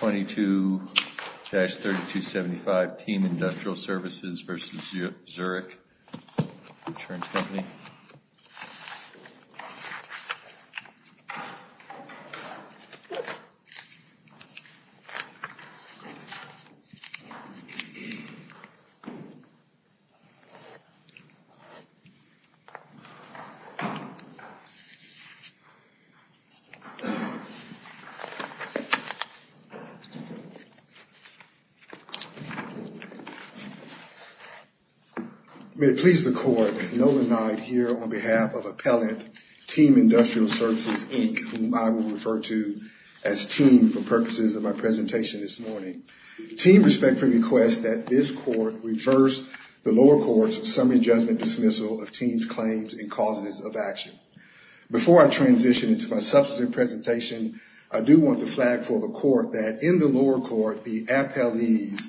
22-3275 Team Industrial Services v. Zurich American Insurance Company May it please the Court, Nolan Knight here on behalf of Appellant Team Industrial Services, Inc. whom I will refer to as Team for purposes of my presentation this morning. Team respectfully requests that this Court reverse the lower court's summary judgment dismissal of Team's claims and causes of action. Before I transition into my substantive presentation, I do want to flag for the Court that in the lower court, the appellees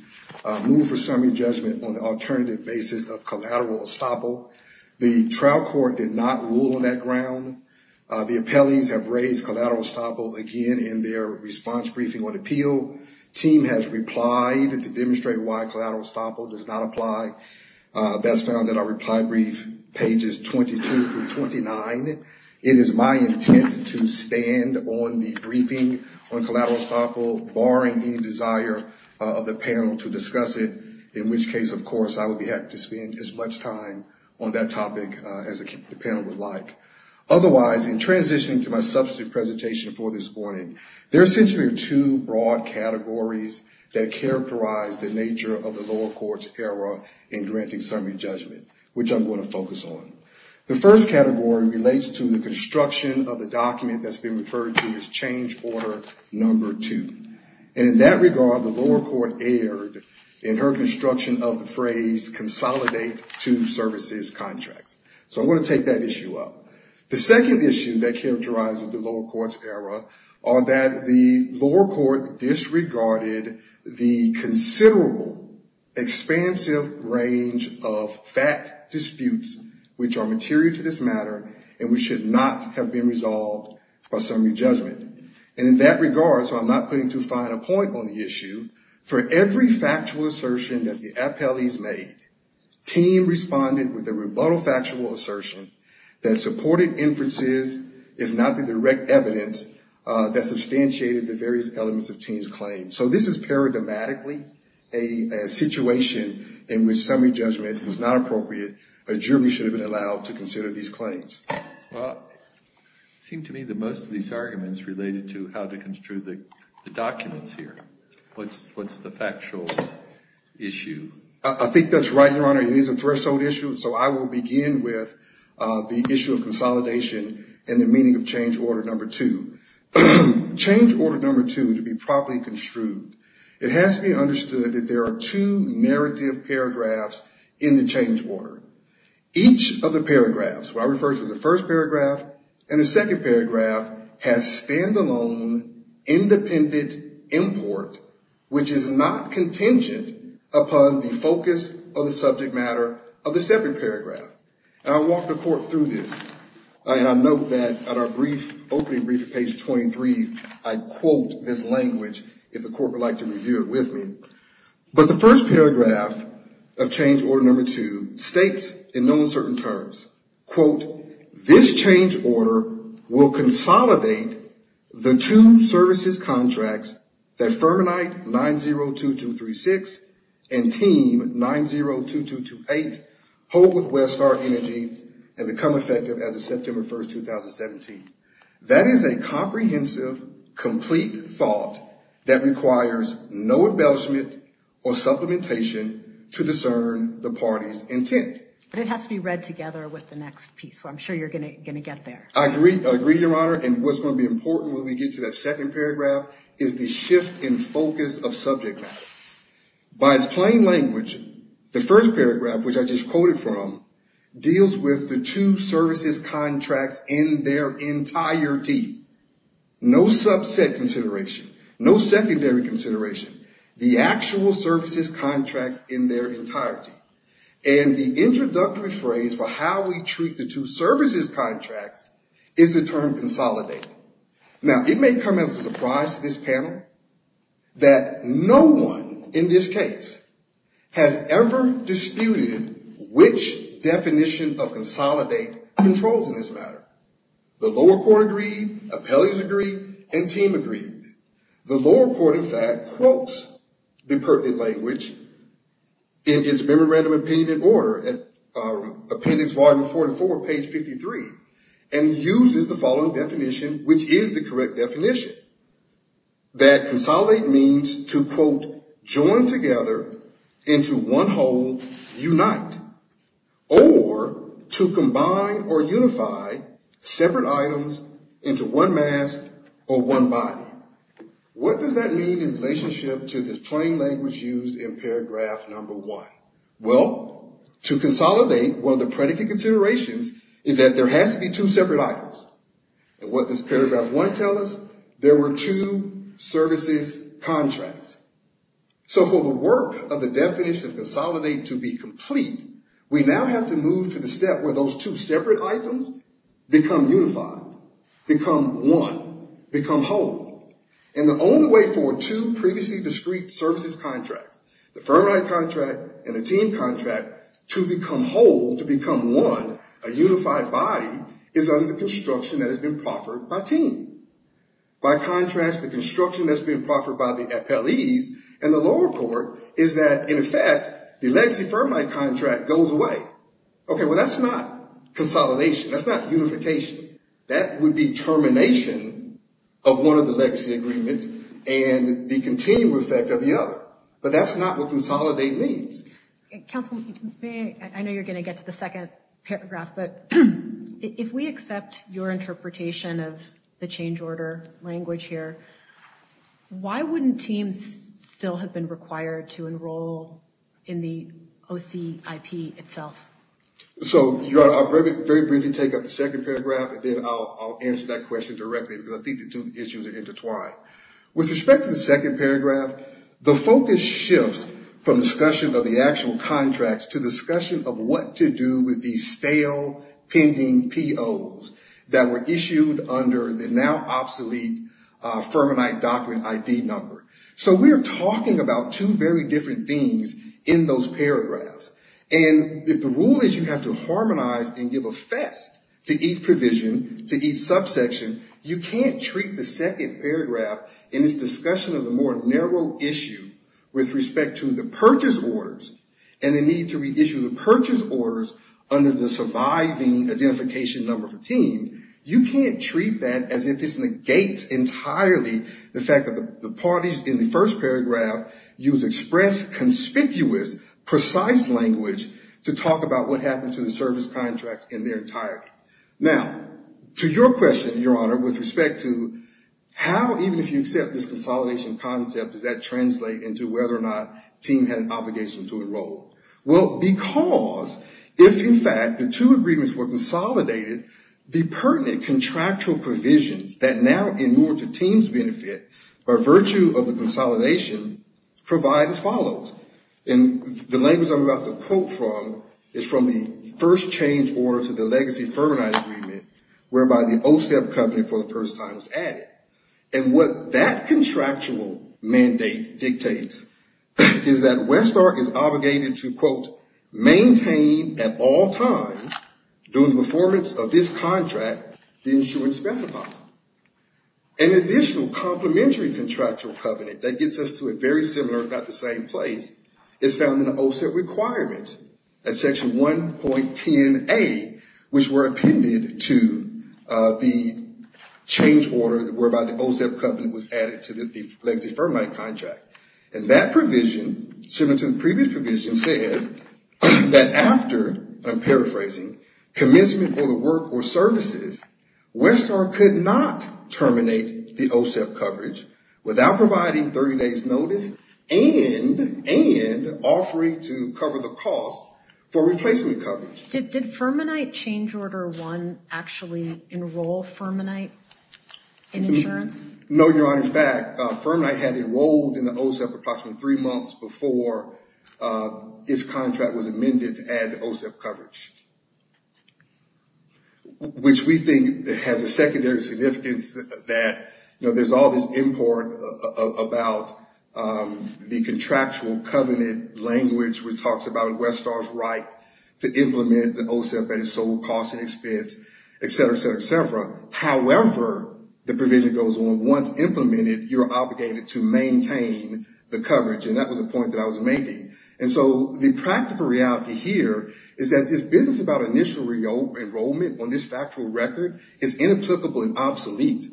moved for summary judgment on the alternative basis of collateral estoppel. The trial court did not rule on that ground. The appellees have raised collateral estoppel again in their response briefing on appeal. Team has replied to demonstrate why collateral estoppel does not apply. That's found in our reply brief, pages 22-29. It is my intent to stand on the briefing on collateral estoppel, barring any desire of the panel to discuss it, in which case, of course, I would be happy to spend as much time on that topic as the panel would like. Otherwise, in transitioning to my substantive presentation for this morning, there are essentially two broad categories that characterize the nature of the lower court's error in granting summary judgment, which I'm going to focus on. The first category relates to the construction of the document that's been referred to as change order number two. And in that regard, the lower court erred in her construction of the phrase consolidate two services contracts. So I'm going to take that issue up. The second issue that characterizes the lower court's error are that the lower court disregarded the considerable, expansive range of fact disputes which are material to this matter and which should not have been resolved by summary judgment. And in that regard, so I'm not putting too fine a point on the issue, for every factual assertion that the appellees made, team responded with a rebuttal factual assertion that supported inferences, if not the direct evidence, that substantiated the various elements of team's claim. So this is paradigmatically a situation in which summary judgment was not appropriate. A jury should have been allowed to consider these claims. Well, it seemed to me that most of these arguments related to how to construe the documents here. What's the factual issue? I think that's right, Your Honor. It is a threshold issue. So I will begin with the issue of consolidation and the meaning of change order number two. Change order number two, to be properly construed, it has to be understood that there are two narrative paragraphs in the change order. Each of the paragraphs, what I refer to as the first paragraph and the second paragraph, has standalone independent import, which is not contingent upon the focus of the subject matter of the second paragraph. And I'll walk the Court through this. And I note that at our brief opening brief at page 23, I quote this language, if the Court would like to review it with me. But the first paragraph of change order number two states in no uncertain terms, quote, this change order will consolidate the two services contracts that Fermanite 902236 and Team 902228 hold with Westar Energy and become effective as of September 1, 2017. That is a comprehensive, complete thought that requires no embellishment or supplementation to discern the party's intent. But it has to be read together with the next piece. I'm sure you're going to get there. I agree, Your Honor. And what's going to be important when we get to that second paragraph is the shift in focus of subject matter. By its plain language, the first paragraph, which I just quoted from, deals with the two services contracts in their entirety. No subset consideration. No secondary consideration. The actual services contracts in their entirety. And the introductory phrase for how we treat the two services contracts is the term consolidate. Now, it may come as a surprise to this panel that no one in this case has ever disputed which definition of consolidate controls in this matter. The lower court agreed, appellees agreed, and team agreed. The lower court, in fact, quotes the pertinent language in its memorandum opinion in order, appendix volume 44, page 53, and uses the following definition, which is the correct definition. That consolidate means to, quote, join together into one whole, unite, or to combine or unify separate items into one mass or one body. What does that mean in relationship to this plain language used in paragraph number one? Well, to consolidate, one of the predicate considerations is that there has to be two separate items. And what does paragraph one tell us? There were two services contracts. So for the work of the definition of consolidate to be complete, we now have to move to the step where those two separate items become unified, become one, become whole. And the only way for two previously discrete services contracts, the firm right contract and the team contract, to become whole, to become one, a unified body, is under the construction that has been proffered by team. By contrast, the construction that's been proffered by the appellees and the lower court is that, in effect, the legacy firm right contract goes away. Okay, well, that's not consolidation. That's not unification. That would be termination of one of the legacy agreements and the continual effect of the other. But that's not what consolidate means. Counsel, I know you're going to get to the second paragraph, but if we accept your interpretation of the change order language here, why wouldn't teams still have been required to enroll in the OCIP itself? So I'll very briefly take up the second paragraph, and then I'll answer that question directly, because I think the two issues are intertwined. With respect to the second paragraph, the focus shifts from discussion of the actual contracts to discussion of what to do with these stale, pending POs that were issued under the now obsolete Fermanite Document ID number. So we are talking about two very different things in those paragraphs. And if the rule is you have to harmonize and give effect to each provision, to each subsection, you can't treat the second paragraph in this discussion of the more narrow issue with respect to the purchase orders and the need to reissue the purchase orders under the surviving identification number for teams, you can't treat that as if it negates entirely the fact that the parties in the first paragraph use express, conspicuous, precise language to talk about what happened to the service contracts in their entirety. Now, to your question, Your Honor, with respect to how, even if you accept this consolidation concept, does that translate into whether or not a team had an obligation to enroll? Well, because if, in fact, the two agreements were consolidated, the pertinent contractual provisions that now, in order to teams' benefit, by virtue of the consolidation, provide as follows. And the language I'm about to quote from is from the first change order to the legacy Fermanite agreement, whereby the OSEP company for the first time was added. And what that contractual mandate dictates is that Westark is obligated to, quote, maintain at all times, during the performance of this contract, the insurance specified. An additional complementary contractual covenant that gets us to a very similar, if not the same place, is found in the OSEP requirements at section 1.10A, which were appended to the change order whereby the OSEP covenant was added to the legacy Fermanite contract. And that provision, similar to the previous provision, says that after, I'm paraphrasing, commencement for the work or services, Westark could not terminate the OSEP coverage without providing 30 days' notice and offering to cover the cost for replacement coverage. Did Fermanite change order 1 actually enroll Fermanite in insurance? No, Your Honor. In fact, Fermanite had enrolled in the OSEP approximately three months before its contract was amended to add the OSEP coverage. Which we think has a secondary significance that, you know, there's all this import about the contractual covenant language, which talks about Westark's right to implement the OSEP at its sole cost and expense, et cetera, et cetera, et cetera. However, the provision goes on, once implemented, you're obligated to maintain the coverage. And that was a point that I was making. And so the practical reality here is that this business about initial enrollment on this factual record is inapplicable and obsolete.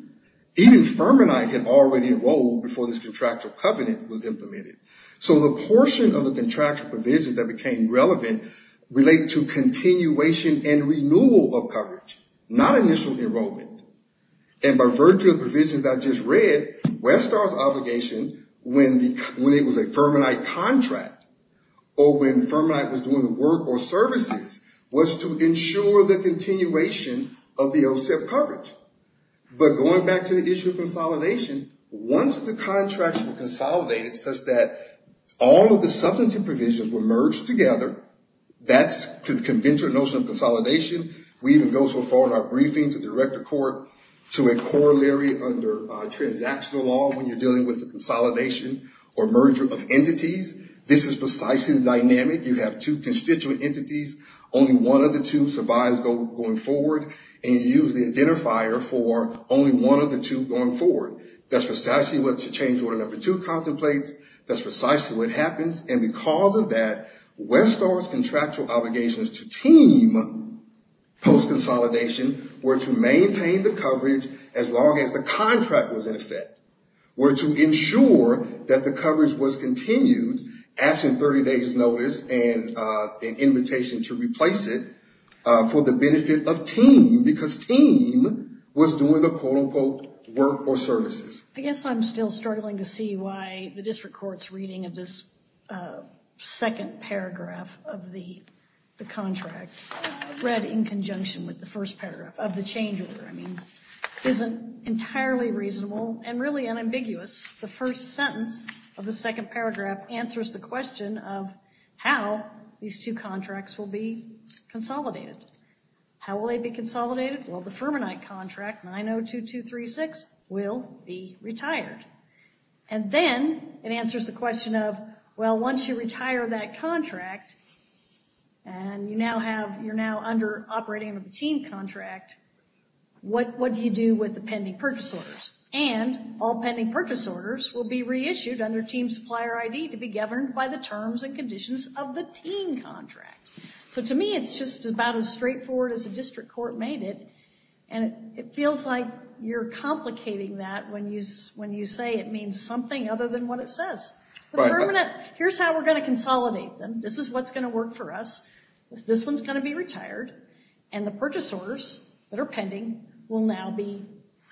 Even Fermanite had already enrolled before this contractual covenant was implemented. So the portion of the contractual provisions that became relevant relate to continuation and renewal of coverage, not initial enrollment. And by virtue of the provisions I just read, Westark's obligation, when it was a Fermanite contract or when Fermanite was doing the work or services, was to ensure the continuation of the OSEP coverage. But going back to the issue of consolidation, once the contracts were consolidated such that all of the substantive provisions were merged together, that's the conventional notion of consolidation. We even go so far in our briefings at the director court to a corollary under transactional law when you're dealing with a consolidation or merger of entities. This is precisely the dynamic. You have two constituent entities. Only one of the two survives going forward. And you use the identifier for only one of the two going forward. That's precisely what the change order number two contemplates. That's precisely what happens. And because of that, Westark's contractual obligations to TEAM post-consolidation were to maintain the coverage as long as the contract was in effect, were to ensure that the coverage was continued after 30 days' notice and an invitation to replace it for the benefit of TEAM, because TEAM was doing the quote-unquote work or services. I guess I'm still struggling to see why the district court's reading of this second paragraph of the contract, read in conjunction with the first paragraph of the change order, I mean, isn't entirely reasonable and really unambiguous. The first sentence of the second paragraph answers the question of how these two contracts will be consolidated. How will they be consolidated? Well, the Fermanite contract, 902236, will be retired. And then it answers the question of, well, once you retire that contract and you're now under operating of a TEAM contract, what do you do with the pending purchase orders? And all pending purchase orders will be reissued under TEAM supplier ID to be governed by the terms and conditions of the TEAM contract. So to me, it's just about as straightforward as the district court made it, and it feels like you're complicating that when you say it means something other than what it says. The Fermanite, here's how we're going to consolidate them. This is what's going to work for us. This one's going to be retired, and the purchase orders that are pending will now be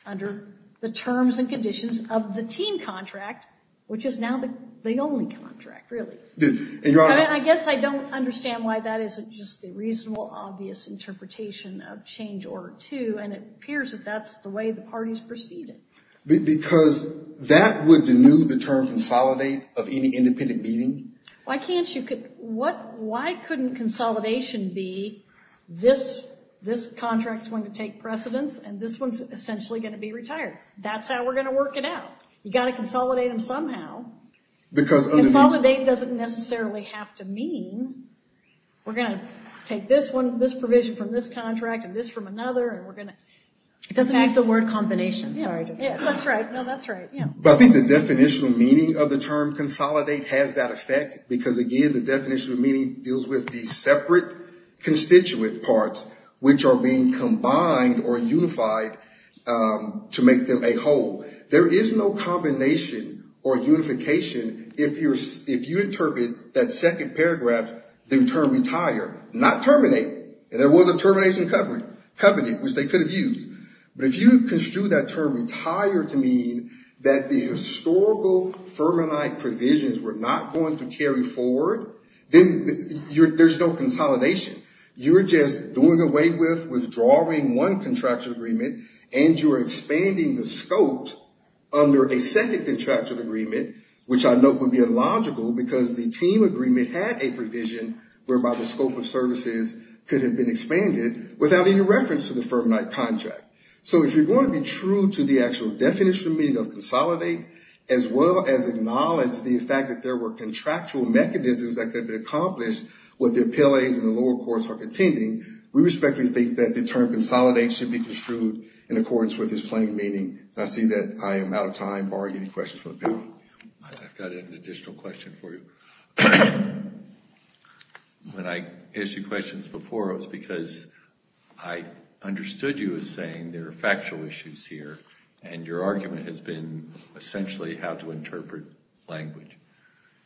under the terms and conditions of the TEAM contract, which is now the only contract, really. I guess I don't understand why that isn't just a reasonable, obvious interpretation of Change Order 2, and it appears that that's the way the parties proceeded. Because that would denude the term consolidate of any independent meeting. Why couldn't consolidation be this contract's going to take precedence, and this one's essentially going to be retired? That's how we're going to work it out. You've got to consolidate them somehow. Consolidate doesn't necessarily have to mean we're going to take this provision from this contract and this from another. It doesn't use the word combination. That's right. I think the definitional meaning of the term consolidate has that effect, because, again, the definitional meaning deals with these separate constituent parts, There is no combination or unification if you interpret that second paragraph, the term retire, not terminate. There was a termination covenant, which they could have used. But if you construe that term retire to mean that the historical Fermanite provisions were not going to carry forward, then there's no consolidation. You're just doing away with withdrawing one contractual agreement, and you're expanding the scope under a second contractual agreement, which I note would be illogical because the team agreement had a provision whereby the scope of services could have been expanded, without any reference to the Fermanite contract. So if you're going to be true to the actual definitional meaning of consolidate, as well as acknowledge the fact that there were contractual mechanisms that could have been accomplished with the appellees in the lower courts are contending, we respectfully think that the term consolidate should be construed in accordance with this plain meaning. And I see that I am out of time. Barg, any questions for the panel? I've got an additional question for you. When I issued questions before, it was because I understood you as saying there are factual issues here, and your argument has been essentially how to interpret language.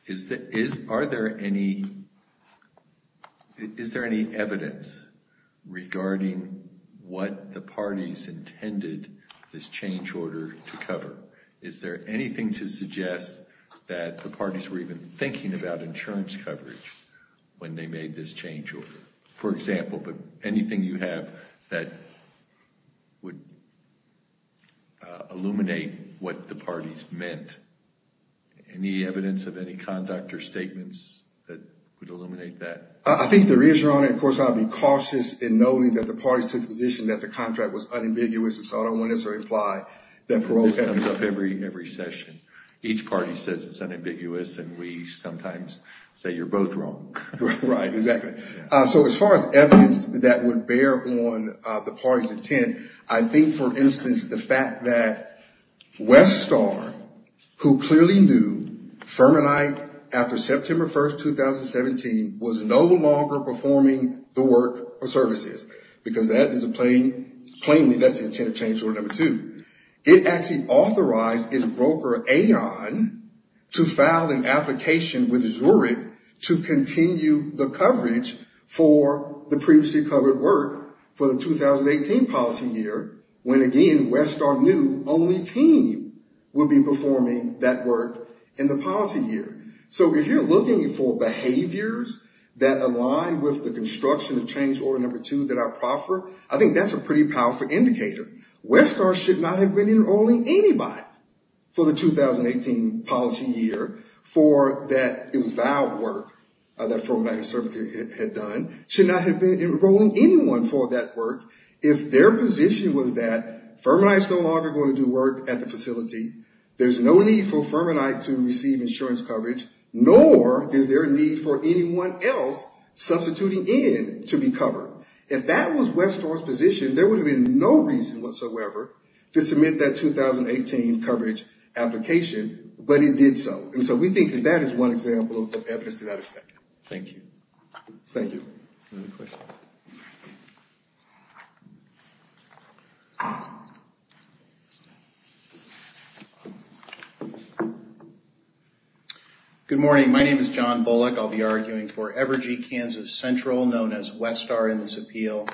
Is there any evidence regarding what the parties intended this change order to cover? Is there anything to suggest that the parties were even thinking about insurance coverage when they made this change order? For example, anything you have that would illuminate what the parties meant? Any evidence of any conduct or statements that would illuminate that? I think there is, Your Honor. Of course, I would be cautious in noting that the parties took the position that the contract was unambiguous, and so I don't want us to imply that parole happens. This comes up every session. Each party says it's unambiguous, and we sometimes say you're both wrong. Right, exactly. So as far as evidence that would bear on the parties' intent, I think, for instance, the fact that Westar, who clearly knew Fermanite after September 1st, 2017, was no longer performing the work or services, because that is a plainly, that's the intent of change order number two. It actually authorized its broker, Aon, to file an application with Zurich to continue the coverage for the previously covered work. For the 2018 policy year, when again, Westar knew only team would be performing that work in the policy year. So if you're looking for behaviors that align with the construction of change order number two that I proffer, I think that's a pretty powerful indicator. Westar should not have been enrolling anybody for the 2018 policy year for that eval work that Fermanite had done. Should not have been enrolling anyone for that work if their position was that Fermanite's no longer going to do work at the facility. There's no need for Fermanite to receive insurance coverage, nor is there a need for anyone else substituting in to be covered. If that was Westar's position, there would have been no reason whatsoever to submit that 2018 coverage application, but it did so. And so we think that that is one example of evidence to that effect. Thank you. Thank you. Any other questions? Good morning. My name is John Bullock. I'll be arguing for Evergy Kansas Central, known as Westar in this appeal.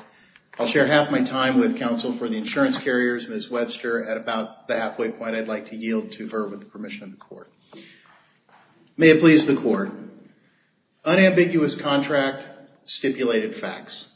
I'll share half my time with counsel for the insurance carriers, Ms. Webster, at about the halfway point. I'd like to yield to her with the permission of the court. May it please the court. Unambiguous contract, stipulated facts.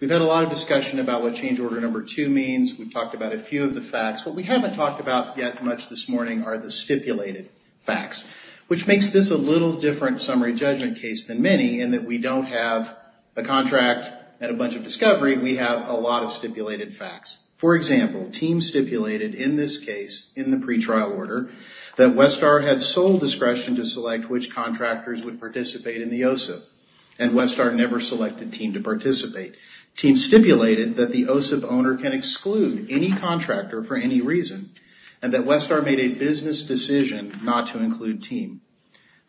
We've had a lot of discussion about what change order number two means. We've talked about a few of the facts. What we haven't talked about yet much this morning are the stipulated facts, which makes this a little different summary judgment case than many in that we don't have a contract and a bunch of discovery. We have a lot of stipulated facts. For example, TEAM stipulated in this case, in the pretrial order, that Westar had sole discretion to select which contractors would participate in the OSIP, and Westar never selected TEAM to participate. TEAM stipulated that the OSIP owner can exclude any contractor for any reason, and that Westar made a business decision not to include TEAM.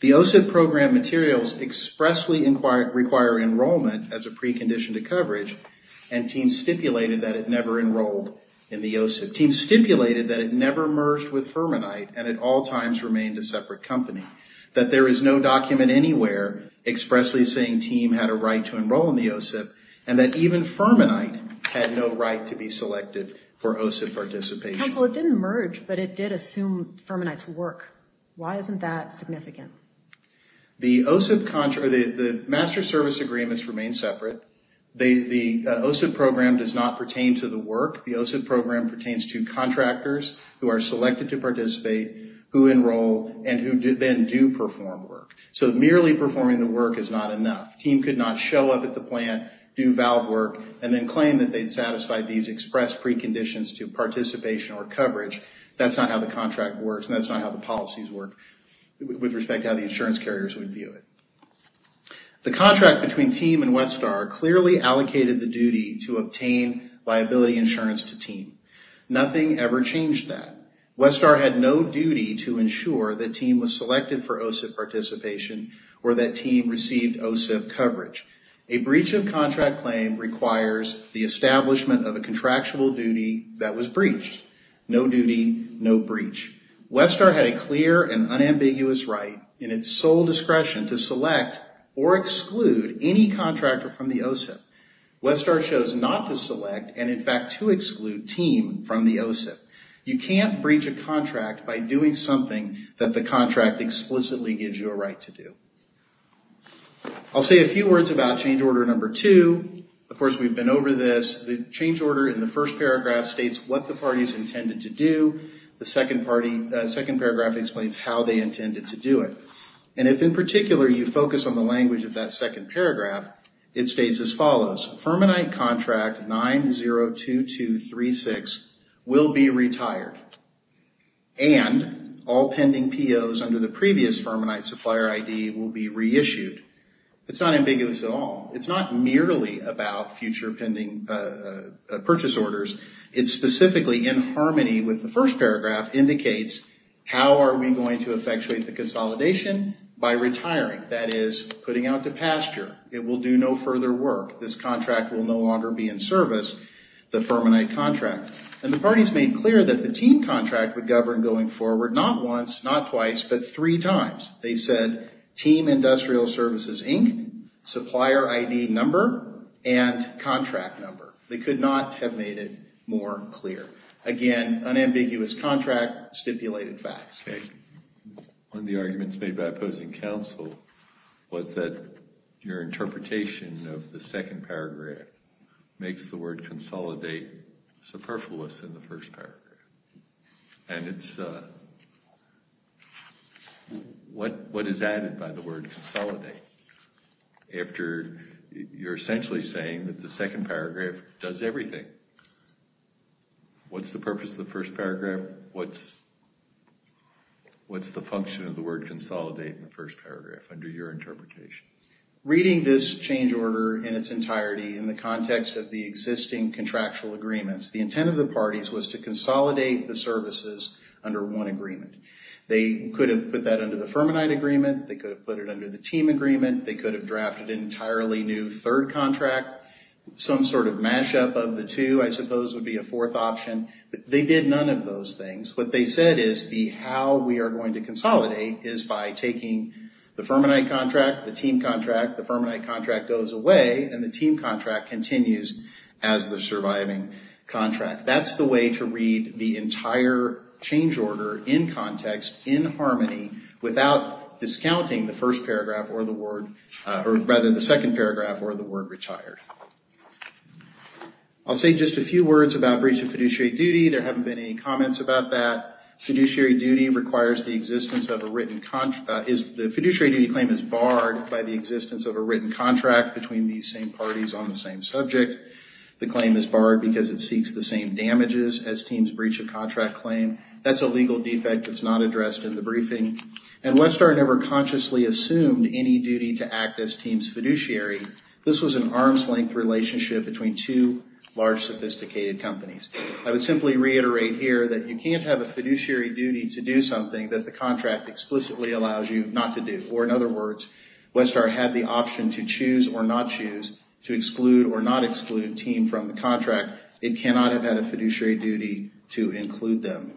The OSIP program materials expressly require enrollment as a precondition to coverage, and TEAM stipulated that it never enrolled in the OSIP. TEAM stipulated that it never merged with Fermanite, and at all times remained a separate company. That there is no document anywhere expressly saying TEAM had a right to enroll in the OSIP, and that even Fermanite had no right to be selected for OSIP participation. Counsel, it didn't merge, but it did assume Fermanite's work. Why isn't that significant? The OSIP, the master service agreements remain separate. The OSIP program does not pertain to the work. The OSIP program pertains to contractors who are selected to participate, who enroll, and who then do perform work. So merely performing the work is not enough. TEAM could not show up at the plant, do valve work, and then claim that they'd satisfied these express preconditions to participation or coverage. That's not how the contract works, and that's not how the policies work with respect to how the insurance carriers would view it. The contract between TEAM and Westar clearly allocated the duty to obtain liability insurance to TEAM. Nothing ever changed that. Westar had no duty to ensure that TEAM was selected for OSIP participation or that TEAM received OSIP coverage. A breach of contract claim requires the establishment of a contractual duty that was breached. No duty, no breach. Westar had a clear and unambiguous right in its sole discretion to select or exclude any contractor from the OSIP. Westar chose not to select and, in fact, to exclude TEAM from the OSIP. You can't breach a contract by doing something that the contract explicitly gives you a right to do. I'll say a few words about change order number two. Of course, we've been over this. The change order in the first paragraph states what the parties intended to do. The second paragraph explains how they intended to do it. And if, in particular, you focus on the language of that second paragraph, it states as follows. Fermanite contract 902236 will be retired and all pending POs under the previous Fermanite supplier ID will be reissued. It's not ambiguous at all. It's not merely about future pending purchase orders. It specifically, in harmony with the first paragraph, indicates how are we going to effectuate the consolidation by retiring, that is, putting out to pasture. It will do no further work. This contract will no longer be in service, the Fermanite contract. And the parties made clear that the TEAM contract would govern going forward, not once, not twice, but three times. They said TEAM Industrial Services, Inc., supplier ID number, and contract number. They could not have made it more clear. Again, unambiguous contract, stipulated facts. Thank you. One of the arguments made by opposing counsel was that your interpretation of the second paragraph makes the word consolidate superfluous in the first paragraph. And it's what is added by the word consolidate after you're essentially saying that the second paragraph does everything. What's the purpose of the first paragraph? What's the function of the word consolidate in the first paragraph under your interpretation? Reading this change order in its entirety in the context of the existing contractual agreements, the intent of the parties was to consolidate the services under one agreement. They could have put that under the Fermanite agreement. They could have put it under the TEAM agreement. They could have drafted an entirely new third contract. Some sort of mashup of the two, I suppose, would be a fourth option. But they did none of those things. What they said is the how we are going to consolidate is by taking the Fermanite contract, the TEAM contract, the Fermanite contract goes away, and the TEAM contract continues as the surviving contract. That's the way to read the entire change order in context, in harmony, without discounting the second paragraph or the word retired. I'll say just a few words about breach of fiduciary duty. There haven't been any comments about that. The fiduciary duty claim is barred by the existence of a written contract between these same parties on the same subject. The claim is barred because it seeks the same damages as TEAM's breach of contract claim. That's a legal defect that's not addressed in the briefing. And Westar never consciously assumed any duty to act as TEAM's fiduciary. This was an arm's-length relationship between two large, sophisticated companies. I would simply reiterate here that you can't have a fiduciary duty to do something that the contract explicitly allows you not to do. Or in other words, Westar had the option to choose or not choose, to exclude or not exclude TEAM from the contract. It cannot have had a fiduciary duty to include them.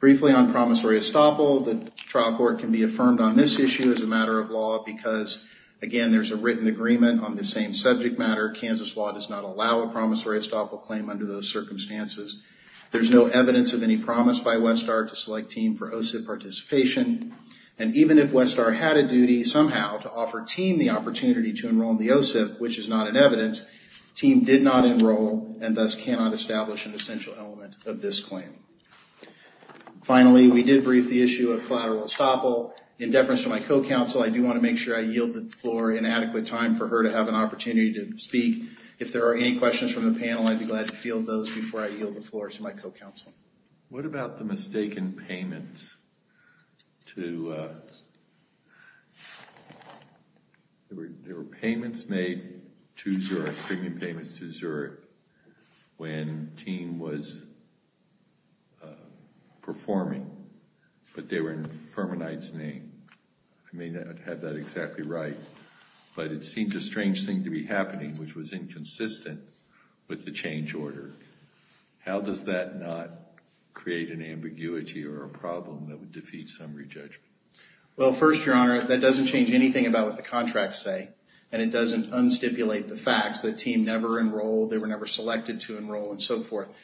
Briefly on promissory estoppel, the trial court can be affirmed on this issue as a matter of law because, again, there's a written agreement on the same subject matter. Kansas law does not allow a promissory estoppel claim under those circumstances. There's no evidence of any promise by Westar to select TEAM for OSIP participation. And even if Westar had a duty somehow to offer TEAM the opportunity to enroll in the OSIP, which is not in evidence, TEAM did not enroll and thus cannot establish an essential element of this claim. Finally, we did brief the issue of collateral estoppel. In deference to my co-counsel, I do want to make sure I yield the floor in adequate time for her to have an opportunity to speak. If there are any questions from the panel, I'd be glad to field those before I yield the floor to my co-counsel. What about the mistaken payments to... There were payments made to Zurich, premium payments to Zurich, when TEAM was performing, but they were in Fermanite's name. I may not have that exactly right, but it seemed a strange thing to be happening, which was inconsistent with the change order. How does that not create an ambiguity or a problem that would defeat summary judgment? Well, first, Your Honor, that doesn't change anything about what the contracts say, and it doesn't un-stipulate the facts that TEAM never enrolled, they were never selected to enroll, and so forth.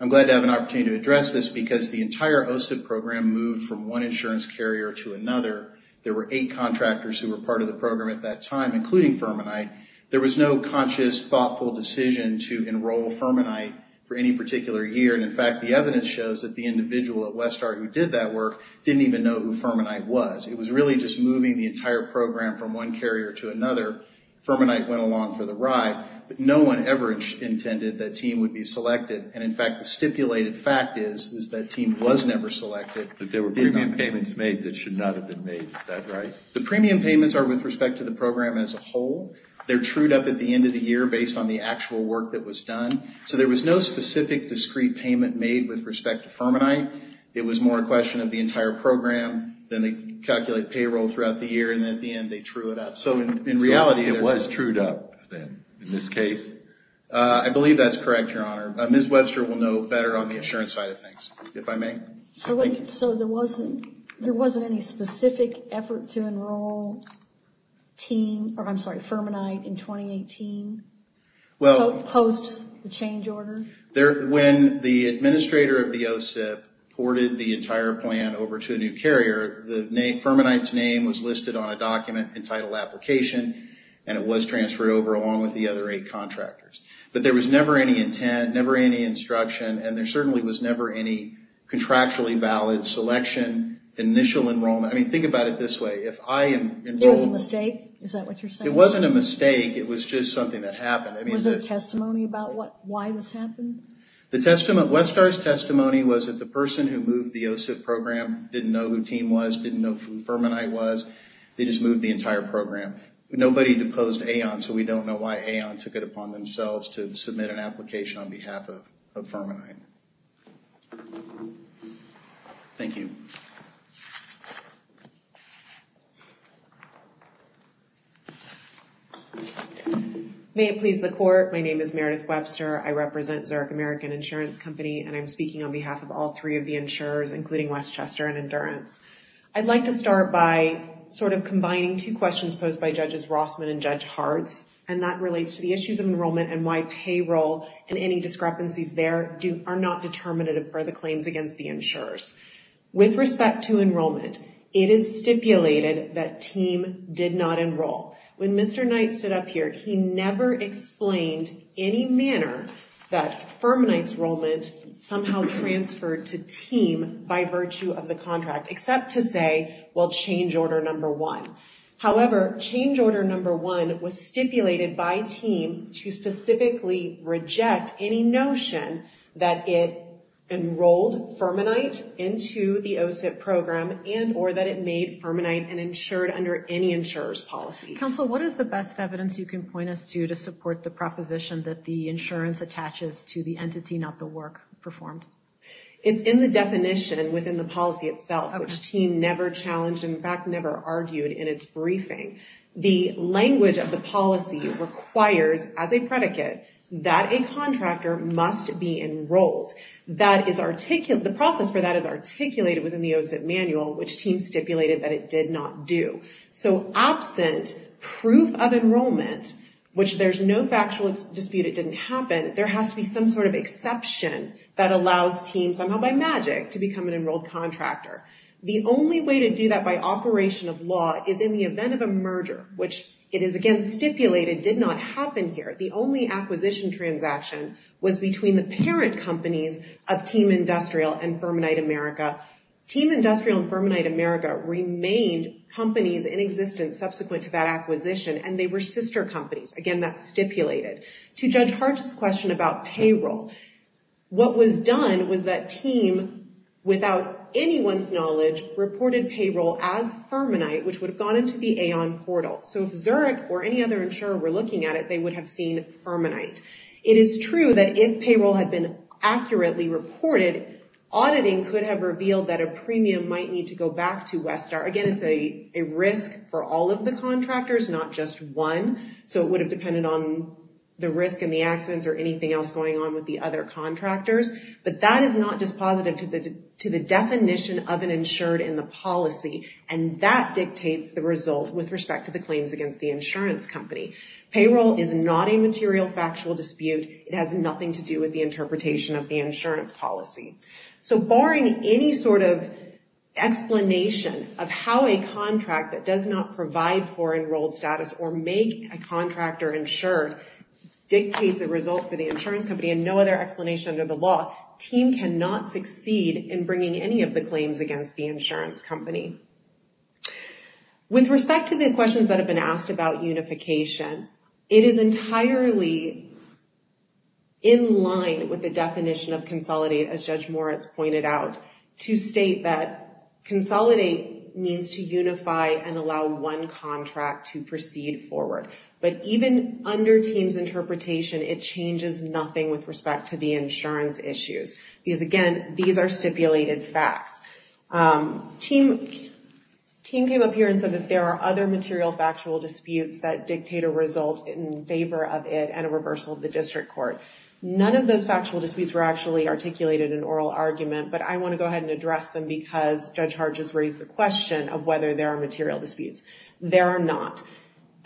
I'm glad to have an opportunity to address this because the entire OSIP program moved from one insurance carrier to another. There were eight contractors who were part of the program at that time, including Fermanite. There was no conscious, thoughtful decision to enroll Fermanite for any particular year, and, in fact, the evidence shows that the individual at Westar who did that work didn't even know who Fermanite was. It was really just moving the entire program from one carrier to another. Fermanite went along for the ride, but no one ever intended that TEAM would be selected, and, in fact, the stipulated fact is that TEAM was never selected. But there were premium payments made that should not have been made. Is that right? The premium payments are with respect to the program as a whole. They're trued up at the end of the year based on the actual work that was done, so there was no specific discrete payment made with respect to Fermanite. It was more a question of the entire program, then they calculate payroll throughout the year, and then at the end they true it up. So, in reality— It was trued up, then, in this case? I believe that's correct, Your Honor. Ms. Webster will know better on the insurance side of things, if I may. So there wasn't any specific effort to enroll Fermanite in 2018? Post the change order? When the administrator of the OSIP ported the entire plan over to a new carrier, Fermanite's name was listed on a document entitled Application, and it was transferred over along with the other eight contractors. But there was never any intent, never any instruction, and there certainly was never any contractually valid selection, initial enrollment. I mean, think about it this way. It was a mistake? Is that what you're saying? It wasn't a mistake. It was just something that happened. Was there testimony about why this happened? Webster's testimony was that the person who moved the OSIP program didn't know who Team was, didn't know who Fermanite was. They just moved the entire program. Nobody deposed Aon, so we don't know why Aon took it upon themselves to submit an application on behalf of Fermanite. Thank you. May it please the Court, my name is Meredith Webster. I represent Zurich American Insurance Company, and I'm speaking on behalf of all three of the insurers, including Westchester and Endurance. I'd like to start by sort of combining two questions posed by Judges Rossman and Judge Hartz, and that relates to the issues of enrollment and why payroll and any discrepancies there are not determinative for the claims against the insurers. With respect to enrollment, it is stipulated that Team did not enroll. When Mr. Knight stood up here, he never explained any manner that Fermanite's enrollment somehow transferred to Team by virtue of the contract, except to say, well, change order number one. However, change order number one was stipulated by Team to specifically reject any notion that it enrolled Fermanite into the OSIP program and or that it made Fermanite an insured under any insurer's policy. Counsel, what is the best evidence you can point us to to support the proposition that the insurance attaches to the entity, not the work performed? It's in the definition within the policy itself, which Team never challenged, in fact, never argued in its briefing. The language of the policy requires, as a predicate, that a contractor must be enrolled. The process for that is articulated within the OSIP manual, which Team stipulated that it did not do. So absent proof of enrollment, which there's no factual dispute it didn't happen, there has to be some sort of exception that allows Team somehow by magic to become an enrolled contractor. The only way to do that by operation of law is in the event of a merger, which it is, again, stipulated did not happen here. The only acquisition transaction was between the parent companies of Team Industrial and Fermanite America. Team Industrial and Fermanite America remained companies in existence subsequent to that acquisition, and they were sister companies. Again, that's stipulated. To Judge Hart's question about payroll, what was done was that Team, without anyone's knowledge, reported payroll as Fermanite, which would have gone into the Aon portal. So if Zurich or any other insurer were looking at it, they would have seen Fermanite. It is true that if payroll had been accurately reported, auditing could have revealed that a premium might need to go back to Westar. Again, it's a risk for all of the contractors, not just one. So it would have depended on the risk and the accidents or anything else going on with the other contractors. But that is not dispositive to the definition of an insured in the policy, and that dictates the result with respect to the claims against the insurance company. Payroll is not a material factual dispute. It has nothing to do with the interpretation of the insurance policy. So barring any sort of explanation of how a contract that does not provide for enrolled status or make a contractor insured dictates a result for the insurance company and no other explanation under the law, TEAM cannot succeed in bringing any of the claims against the insurance company. With respect to the questions that have been asked about unification, it is entirely in line with the definition of consolidate, as Judge Moritz pointed out, to state that consolidate means to unify and allow one contract to proceed forward. But even under TEAM's interpretation, it changes nothing with respect to the insurance issues. Because again, these are stipulated facts. TEAM came up here and said that there are other material factual disputes that dictate a result in favor of it and a reversal of the district court. None of those factual disputes were actually articulated in oral argument, but I want to go ahead and address them because Judge Hart just raised the question of whether there are material disputes. There are not.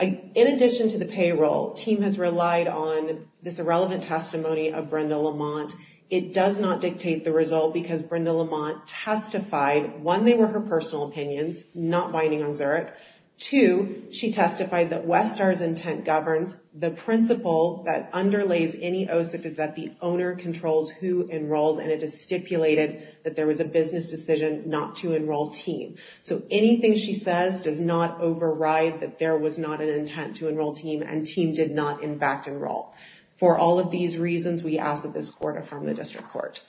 In addition to the payroll, TEAM has relied on this irrelevant testimony of Brenda Lamont. It does not dictate the result because Brenda Lamont testified, one, they were her personal opinions, not binding on Zurich. Two, she testified that Westar's intent governs. The principle that underlays any OSIP is that the owner controls who enrolls and it is stipulated that there was a business decision not to enroll TEAM. So anything she says does not override that there was not an intent to enroll TEAM and TEAM did not in fact enroll. For all of these reasons, we ask that this court affirm the district court.